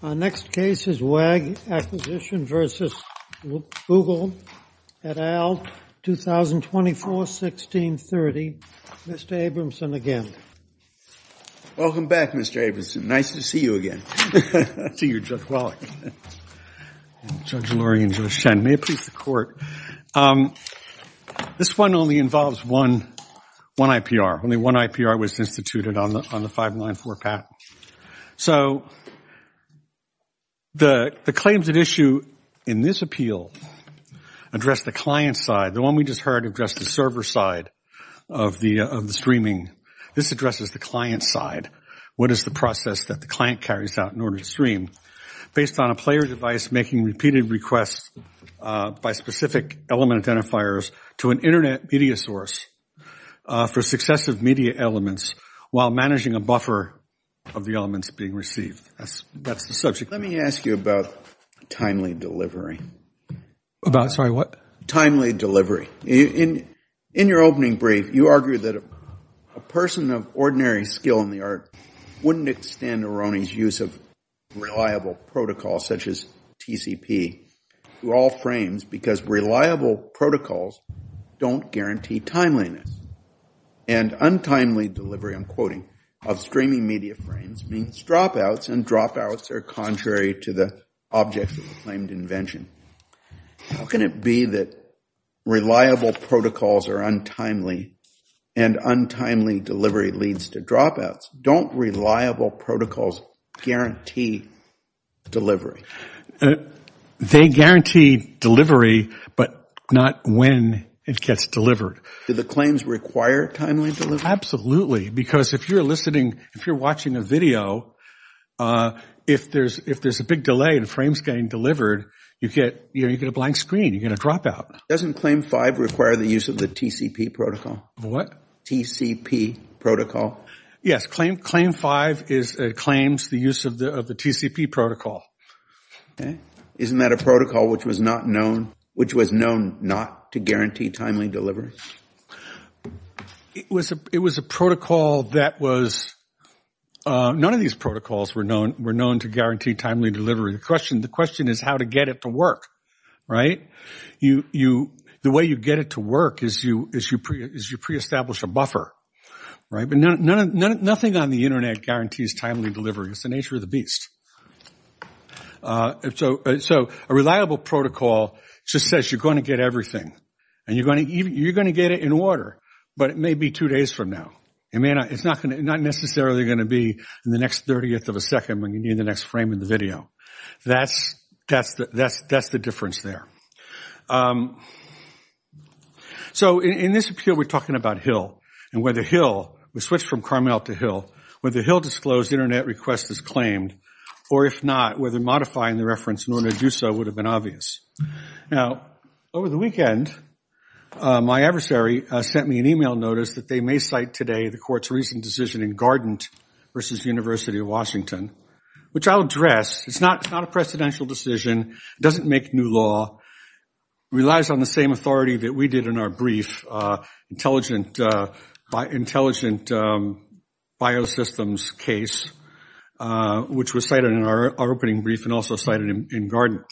Our next case is WAG Acquisition v. Google, et al., 2024-1630. Mr. Abramson again. Welcome back, Mr. Abramson. Nice to see you again. Nice to see you, Judge Wallach. Judge Lurie and Judge Shen, may it please the Court. This one only involves one IPR. Only one IPR was instituted on the 594 patent. So the claims at issue in this appeal address the client side. The one we just heard addressed the server side of the streaming. This addresses the client side. What is the process that the client carries out in order to stream? Based on a player device making repeated requests by specific element identifiers to an Internet media source for successive media elements while managing a buffer of the elements being received. That's the subject. Let me ask you about timely delivery. About, sorry, what? Timely delivery. In your opening brief, you argued that a person of ordinary skill in the art wouldn't extend Aroni's use of reliable protocols, such as TCP, to all frames because reliable protocols don't guarantee timeliness. And untimely delivery, I'm quoting, of streaming media frames means dropouts, and dropouts are contrary to the object of the claimed invention. How can it be that reliable protocols are untimely and untimely delivery leads to dropouts? Don't reliable protocols guarantee delivery? They guarantee delivery, but not when it gets delivered. Do the claims require timely delivery? Absolutely, because if you're listening, if you're watching a video, if there's a big delay and a frame is getting delivered, you get a blank screen. You get a dropout. Doesn't claim five require the use of the TCP protocol? What? TCP protocol. Yes, claim five claims the use of the TCP protocol. Isn't that a protocol which was known not to guarantee timely delivery? It was a protocol that was, none of these protocols were known to guarantee timely delivery. The question is how to get it to work, right? The way you get it to work is you pre-establish a buffer, right? But nothing on the Internet guarantees timely delivery. It's the nature of the beast. So a reliable protocol just says you're going to get everything, and you're going to get it in order, but it may be two days from now. It's not necessarily going to be in the next 30th of a second when you need the next frame in the video. That's the difference there. So in this appeal, we're talking about Hill, and whether Hill, we switch from Carmel to Hill, whether Hill disclosed Internet request is claimed, or if not, whether modifying the reference in order to do so would have been obvious. Now, over the weekend, my adversary sent me an email notice that they may cite today the court's recent decision in Gardent versus University of Washington, which I'll address. It's not a precedential decision. It doesn't make new law. It relies on the same authority that we did in our brief, intelligent biosystems case, which was cited in our opening brief and also cited in Gardent.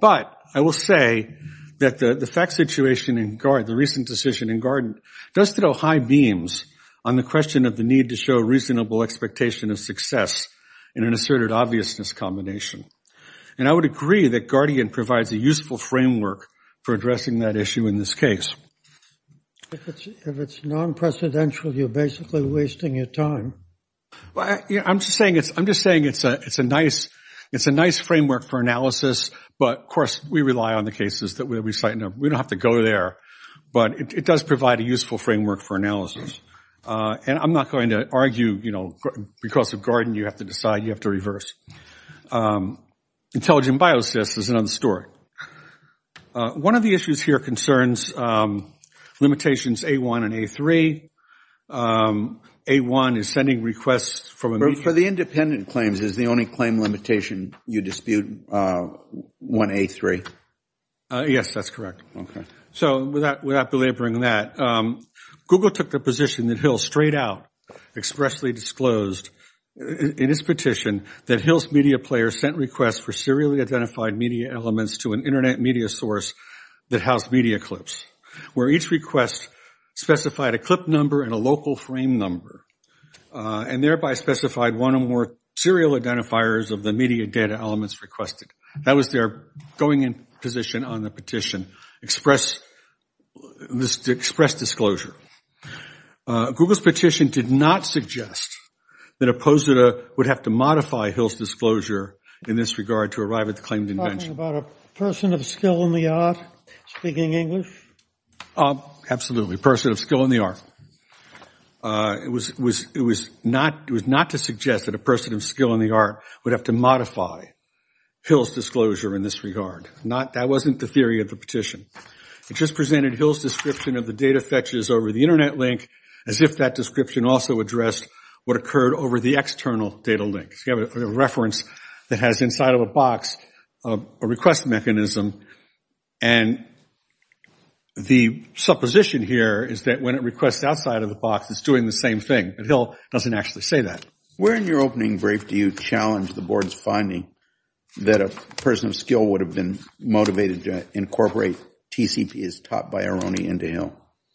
But I will say that the fact situation in Gardent, the recent decision in Gardent, does throw high beams on the question of the need to show reasonable expectation of success in an asserted obviousness combination. And I would agree that Gardent provides a useful framework for addressing that issue in this case. If it's non-precedential, you're basically wasting your time. I'm just saying it's a nice framework for analysis, but, of course, we rely on the cases that we cite. We don't have to go there, but it does provide a useful framework for analysis. And I'm not going to argue because of Gardent you have to decide you have to reverse. Intelligent biosystems is another story. One of the issues here concerns limitations A-1 and A-3. A-1 is sending requests from a meeting. For the independent claims, is the only claim limitation you dispute one A-3? Yes, that's correct. Okay. So without belaboring that, Google took the position that Hill straight out expressly disclosed in his petition that Hill's media player sent requests for serially identified media elements to an internet media source that housed media clips, where each request specified a clip number and a local frame number, and thereby specified one or more serial identifiers of the media data elements requested. That was their going-in position on the petition, express disclosure. Google's petition did not suggest that a positor would have to modify Hill's disclosure in this regard to arrive at the claimed invention. Are you talking about a person of skill in the art speaking English? Absolutely, a person of skill in the art. It was not to suggest that a person of skill in the art would have to modify Hill's disclosure in this regard. That wasn't the theory of the petition. It just presented Hill's description of the data fetches over the internet link as if that description also addressed what occurred over the external data link. You have a reference that has inside of a box a request mechanism, and the supposition here is that when it requests outside of the box, it's doing the same thing, but Hill doesn't actually say that. Where in your opening brief do you challenge the Board's finding that a person of skill would have been motivated to incorporate TCP as taught by Aroni into Hill?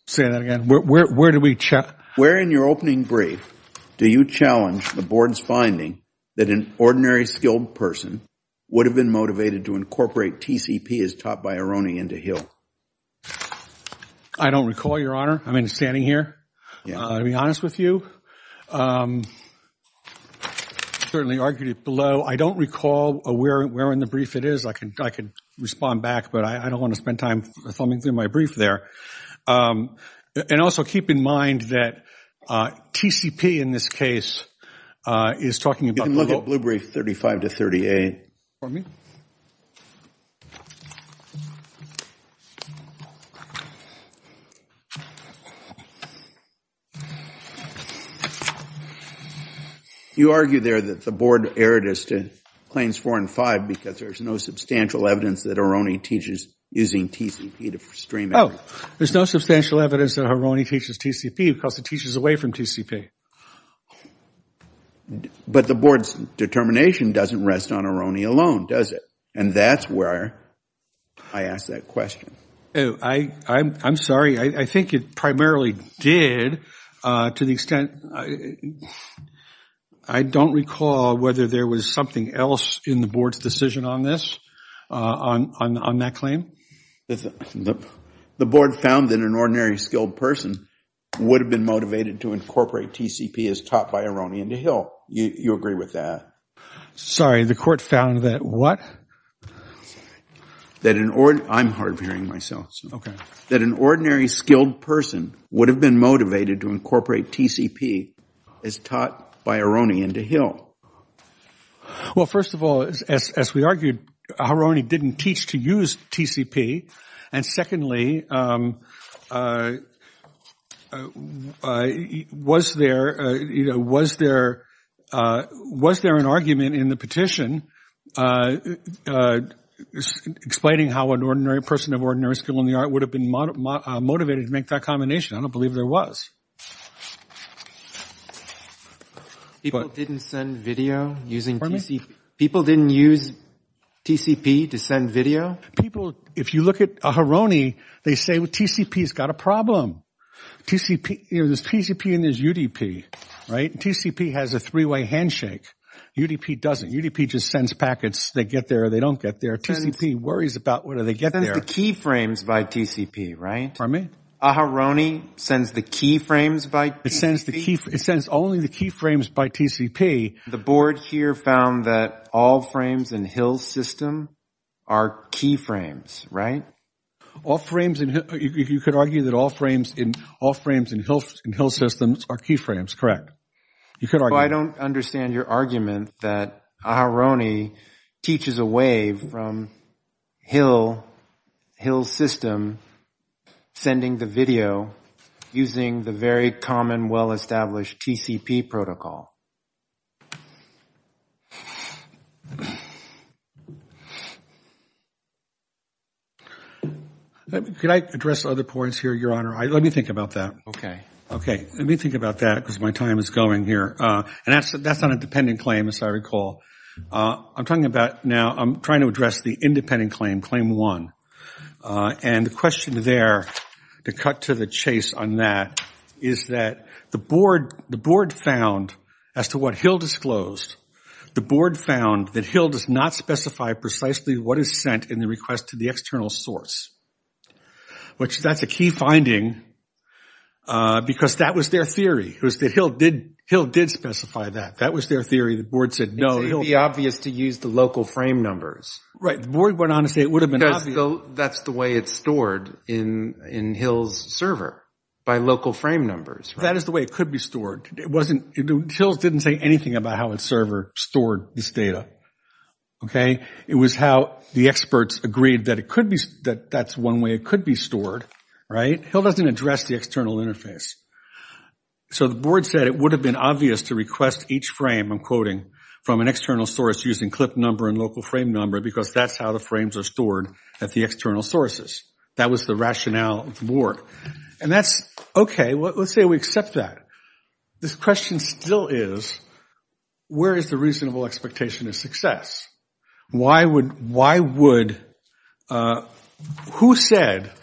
Say that again? Where do we challenge? Where in your opening brief do you challenge the Board's finding that an ordinary skilled person would have been motivated to incorporate TCP as taught by Aroni into Hill? I don't recall, Your Honor. I'm standing here. To be honest with you, I certainly argued it below. I don't recall where in the brief it is. I could respond back, but I don't want to spend time thumbing through my brief there. And also keep in mind that TCP in this case is talking about... You can look up Blue Brief 35 to 38. Pardon me? You argue there that the Board erred as to claims four and five because there's no substantial evidence that Aroni teaches using TCP to stream... Oh, there's no substantial evidence that Aroni teaches TCP because it teaches away from TCP. But the Board's determination doesn't rest on Aroni alone, does it? And that's where I ask that question. I'm sorry. I think it primarily did to the extent... I don't recall whether there was something else in the Board's decision on this, on that claim. The Board found that an ordinary skilled person would have been motivated to incorporate TCP as taught by Aroni into Hill. You agree with that? Sorry, the Court found that what? That an ordinary... I'm hard of hearing myself. Okay. That an ordinary skilled person would have been motivated to incorporate TCP as taught by Aroni into Hill. Well, first of all, as we argued, Aroni didn't teach to use TCP. And secondly, was there an argument in the petition explaining how an ordinary person of ordinary skill in the art would have been motivated to make that combination? I don't believe there was. People didn't send video using TCP? People didn't use TCP to send video? People, if you look at Aroni, they say TCP's got a problem. There's TCP and there's UDP, right? TCP has a three-way handshake. UDP doesn't. UDP just sends packets. They get there or they don't get there. TCP worries about whether they get there. It sends the key frames by TCP, right? Pardon me? Aroni sends the key frames by TCP? It sends only the key frames by TCP. The board here found that all frames in Hill's system are key frames, right? You could argue that all frames in Hill's system are key frames, correct? I don't understand your argument that Aroni teaches away from Hill's system sending the video using the very common, well-established TCP protocol. Could I address other points here, Your Honor? Let me think about that. Okay. Okay. Let me think about that because my time is going here. And that's on a dependent claim, as I recall. I'm trying to address the independent claim, claim one. And the question there, to cut to the chase on that, is that the board found, as to what Hill disclosed, the board found that Hill does not specify precisely what is sent in the request to the external source. That's a key finding because that was their theory. Hill did specify that. That was their theory. The board said no. It would be obvious to use the local frame numbers. Right. The board went on to say it would have been obvious. Because that's the way it's stored in Hill's server, by local frame numbers. That is the way it could be stored. Hill didn't say anything about how its server stored this data, okay? It was how the experts agreed that that's one way it could be stored, right? Hill doesn't address the external interface. So the board said it would have been obvious to request each frame, I'm quoting, from an external source using clip number and local frame number, because that's how the frames are stored at the external sources. That was the rationale of the board. And that's okay. Let's say we accept that. This question still is, where is the reasonable expectation of success? Why would – who said –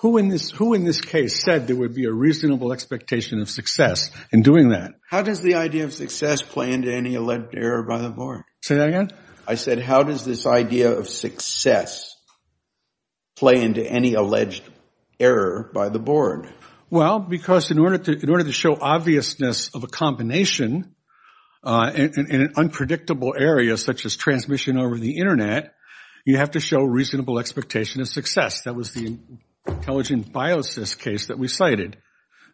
who in this case said there would be a reasonable expectation of success in doing that? How does the idea of success play into any alleged error by the board? Say that again? I said how does this idea of success play into any alleged error by the board? Well, because in order to show obviousness of a combination in an unpredictable area, such as transmission over the Internet, you have to show reasonable expectation of success. That was the intelligent biosys case that we cited,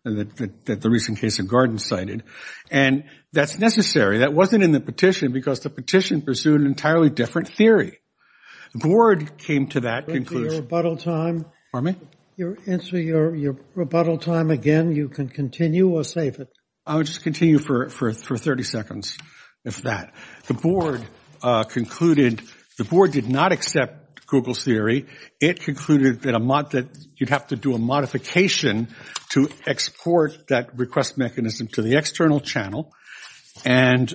that the recent case of Gordon cited. And that's necessary. That wasn't in the petition because the petition pursued an entirely different theory. The board came to that conclusion. Answer your rebuttal time. Pardon me? Answer your rebuttal time again. You can continue or save it. I'll just continue for 30 seconds, if that. The board concluded – the board did not accept Google's theory. It concluded that you'd have to do a modification to export that request mechanism to the external channel. And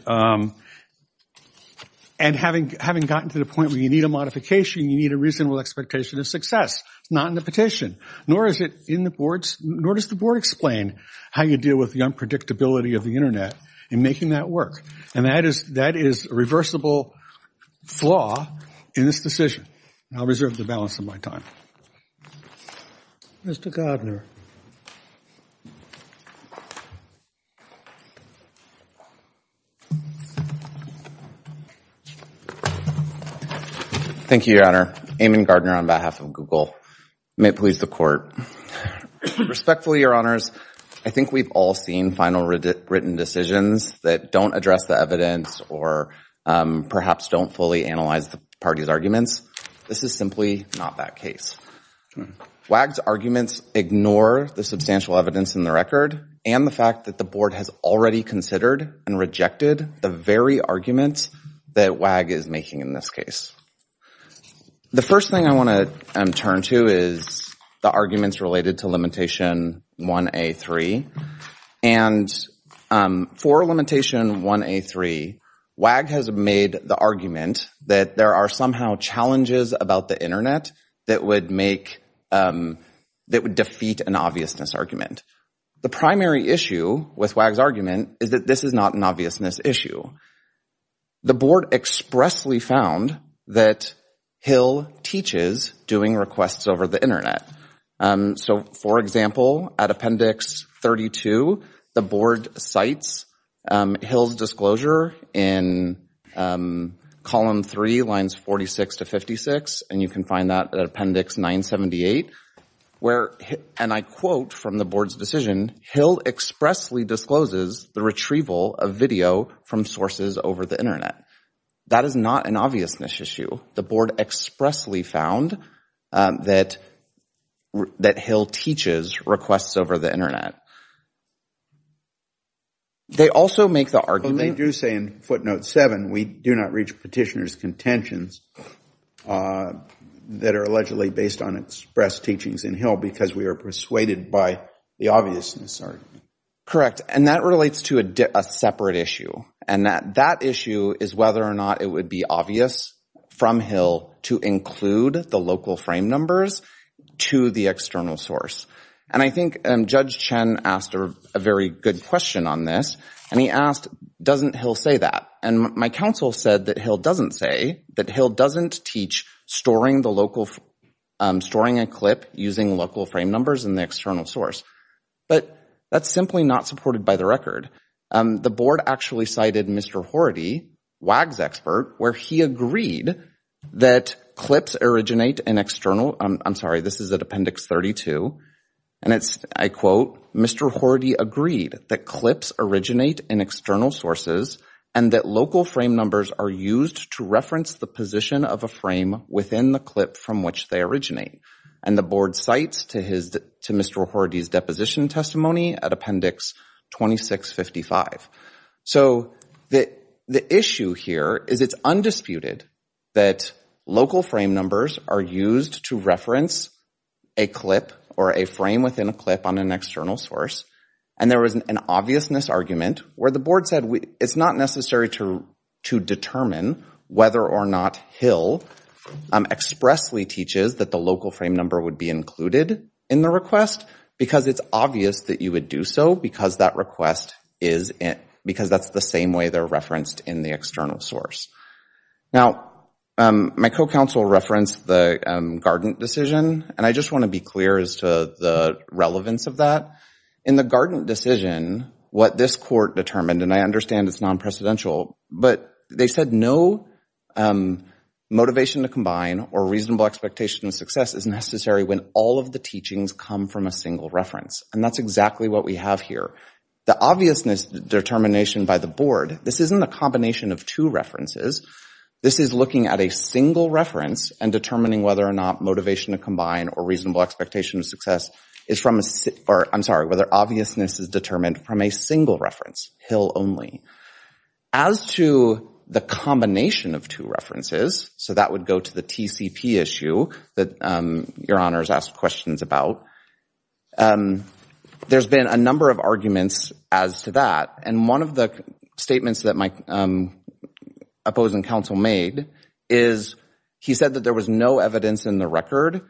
having gotten to the point where you need a modification, you need a reasonable expectation of success. It's not in the petition, nor is it in the board's – nor does the board explain how you deal with the unpredictability of the Internet in making that work. And that is a reversible flaw in this decision. I'll reserve the balance of my time. Mr. Gardner. Thank you, Your Honor. Eamon Gardner on behalf of Google. May it please the court. Respectfully, Your Honors, I think we've all seen final written decisions that don't address the evidence or perhaps don't fully analyze the party's arguments. This is simply not that case. WAG's arguments ignore the substantial evidence in the record and the fact that the board has already considered and rejected the very arguments that WAG is making in this case. The first thing I want to turn to is the arguments related to Limitation 1A3. And for Limitation 1A3, WAG has made the argument that there are somehow challenges about the Internet that would make – that would defeat an obviousness argument. The primary issue with WAG's argument is that this is not an obviousness issue. The board expressly found that Hill teaches doing requests over the Internet. So, for example, at Appendix 32, the board cites Hill's disclosure in Column 3, Lines 46 to 56, and you can find that at Appendix 978, where, and I quote from the board's decision, Hill expressly discloses the retrieval of video from sources over the Internet. That is not an obviousness issue. The board expressly found that Hill teaches requests over the Internet. They also make the argument – we do not reach petitioner's contentions that are allegedly based on expressed teachings in Hill because we are persuaded by the obviousness argument. Correct. And that relates to a separate issue, and that issue is whether or not it would be obvious from Hill to include the local frame numbers to the external source. And I think Judge Chen asked a very good question on this, and he asked, doesn't Hill say that? And my counsel said that Hill doesn't say, that Hill doesn't teach storing a clip using local frame numbers in the external source. But that's simply not supported by the record. The board actually cited Mr. Horady, WAG's expert, where he agreed that clips originate in external – I'm sorry, this is at Appendix 32, and it's, I quote, Mr. Horady agreed that clips originate in external sources and that local frame numbers are used to reference the position of a frame within the clip from which they originate. And the board cites to Mr. Horady's deposition testimony at Appendix 2655. So the issue here is it's undisputed that local frame numbers are used to reference a clip or a frame within a clip on an external source. And there was an obviousness argument where the board said it's not necessary to determine whether or not Hill expressly teaches that the local frame number would be included in the request because it's obvious that you would do so because that request is – because that's the same way they're referenced in the external source. Now, my co-counsel referenced the Gardent decision, and I just want to be clear as to the relevance of that. In the Gardent decision, what this court determined, and I understand it's non-precedential, but they said no motivation to combine or reasonable expectation of success is necessary when all of the teachings come from a single reference. And that's exactly what we have here. The obviousness determination by the board, this isn't a combination of two references. This is looking at a single reference and determining whether or not motivation to combine or reasonable expectation of success is from a – or, I'm sorry, whether obviousness is determined from a single reference, Hill only. As to the combination of two references, so that would go to the TCP issue that Your Honors asked questions about, there's been a number of arguments as to that, and one of the statements that my opposing counsel made is he said that there was no evidence in the record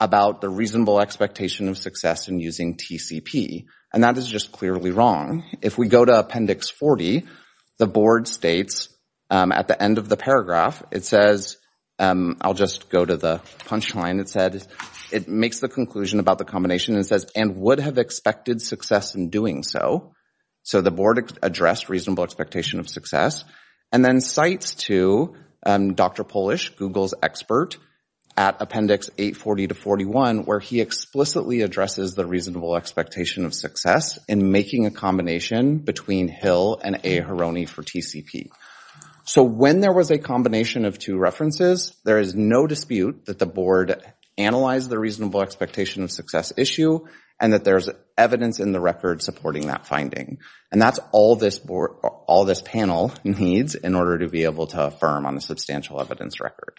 about the reasonable expectation of success in using TCP, and that is just clearly wrong. If we go to Appendix 40, the board states at the end of the paragraph, it says – I'll just go to the punchline. It makes the conclusion about the combination and says, and would have expected success in doing so. So the board addressed reasonable expectation of success, and then cites to Dr. Polish, Google's expert, at Appendix 840 to 841, where he explicitly addresses the reasonable expectation of success in making a combination between Hill and Aharoni for TCP. So when there was a combination of two references, there is no dispute that the board analyzed the reasonable expectation of success issue, and that there's evidence in the record supporting that finding. And that's all this panel needs in order to be able to affirm on a substantial evidence record.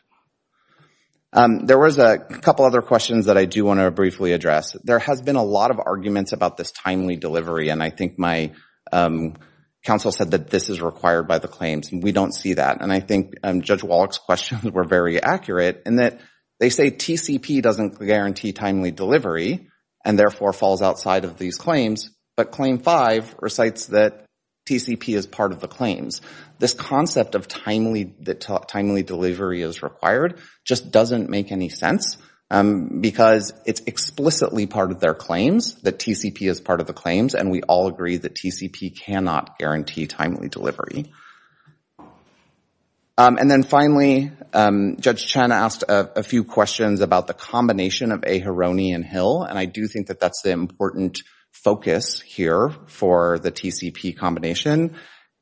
There was a couple other questions that I do want to briefly address. There has been a lot of arguments about this timely delivery, and I think my counsel said that this is required by the claims, and we don't see that. And I think Judge Wallach's questions were very accurate in that they say TCP doesn't guarantee timely delivery and therefore falls outside of these claims, but Claim 5 recites that TCP is part of the claims. This concept of timely delivery is required just doesn't make any sense because it's explicitly part of their claims that TCP is part of the claims, and we all agree that TCP cannot guarantee timely delivery. And then finally, Judge Chen asked a few questions about the combination of Aharoni and Hill, and I do think that that's the important focus here for the TCP combination.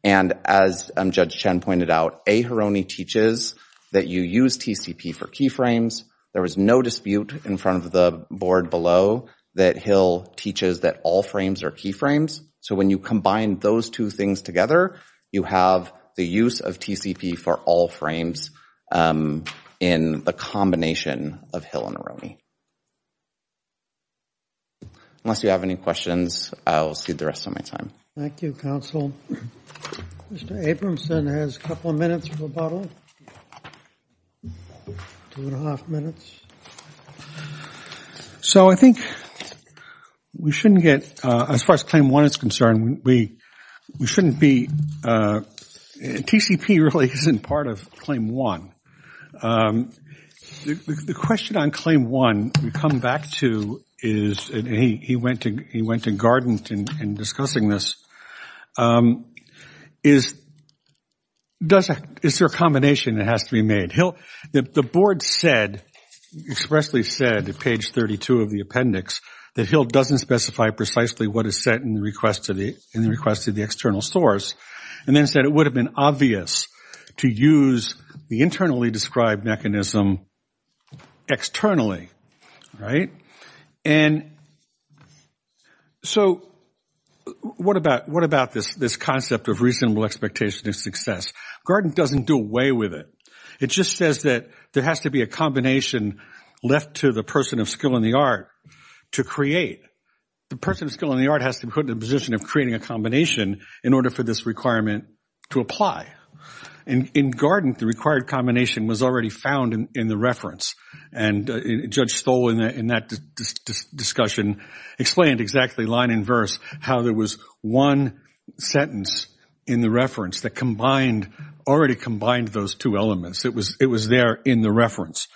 And as Judge Chen pointed out, Aharoni teaches that you use TCP for keyframes. There was no dispute in front of the board below that Hill teaches that all frames are keyframes. So when you combine those two things together, you have the use of TCP for all frames in the combination of Hill and Aharoni. Unless you have any questions, I'll cede the rest of my time. Thank you, counsel. Mr. Abramson has a couple of minutes for rebuttal. Two and a half minutes. So I think we shouldn't get—as far as Claim 1 is concerned, we shouldn't be—TCP really isn't part of Claim 1. The question on Claim 1 we come back to is—and he went to garden in discussing this—is there a combination that has to be made? Hill—the board said, expressly said at page 32 of the appendix, that Hill doesn't specify precisely what is set in the request of the external source, and then said it would have been obvious to use the internally described mechanism externally, right? And so what about this concept of reasonable expectation of success? Garden doesn't do away with it. It just says that there has to be a combination left to the person of skill in the art to create. The person of skill in the art has to be put in the position of creating a combination in order for this requirement to apply. And in garden, the required combination was already found in the reference, and Judge Stoll in that discussion explained exactly, line and verse, how there was one sentence in the reference that already combined those two elements. It was there in the reference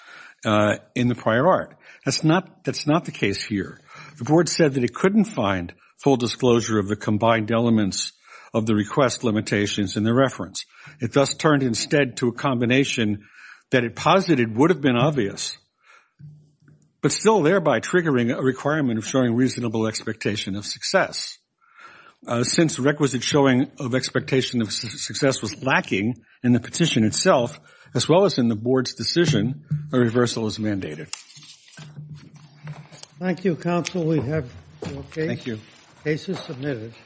in the prior art. That's not the case here. The board said that it couldn't find full disclosure of the combined elements of the request limitations in the reference. It thus turned instead to a combination that it posited would have been obvious, but still thereby triggering a requirement of showing reasonable expectation of success. Since requisite showing of expectation of success was lacking in the petition itself, as well as in the board's decision, a reversal is mandated. Thank you, counsel. We have your cases submitted.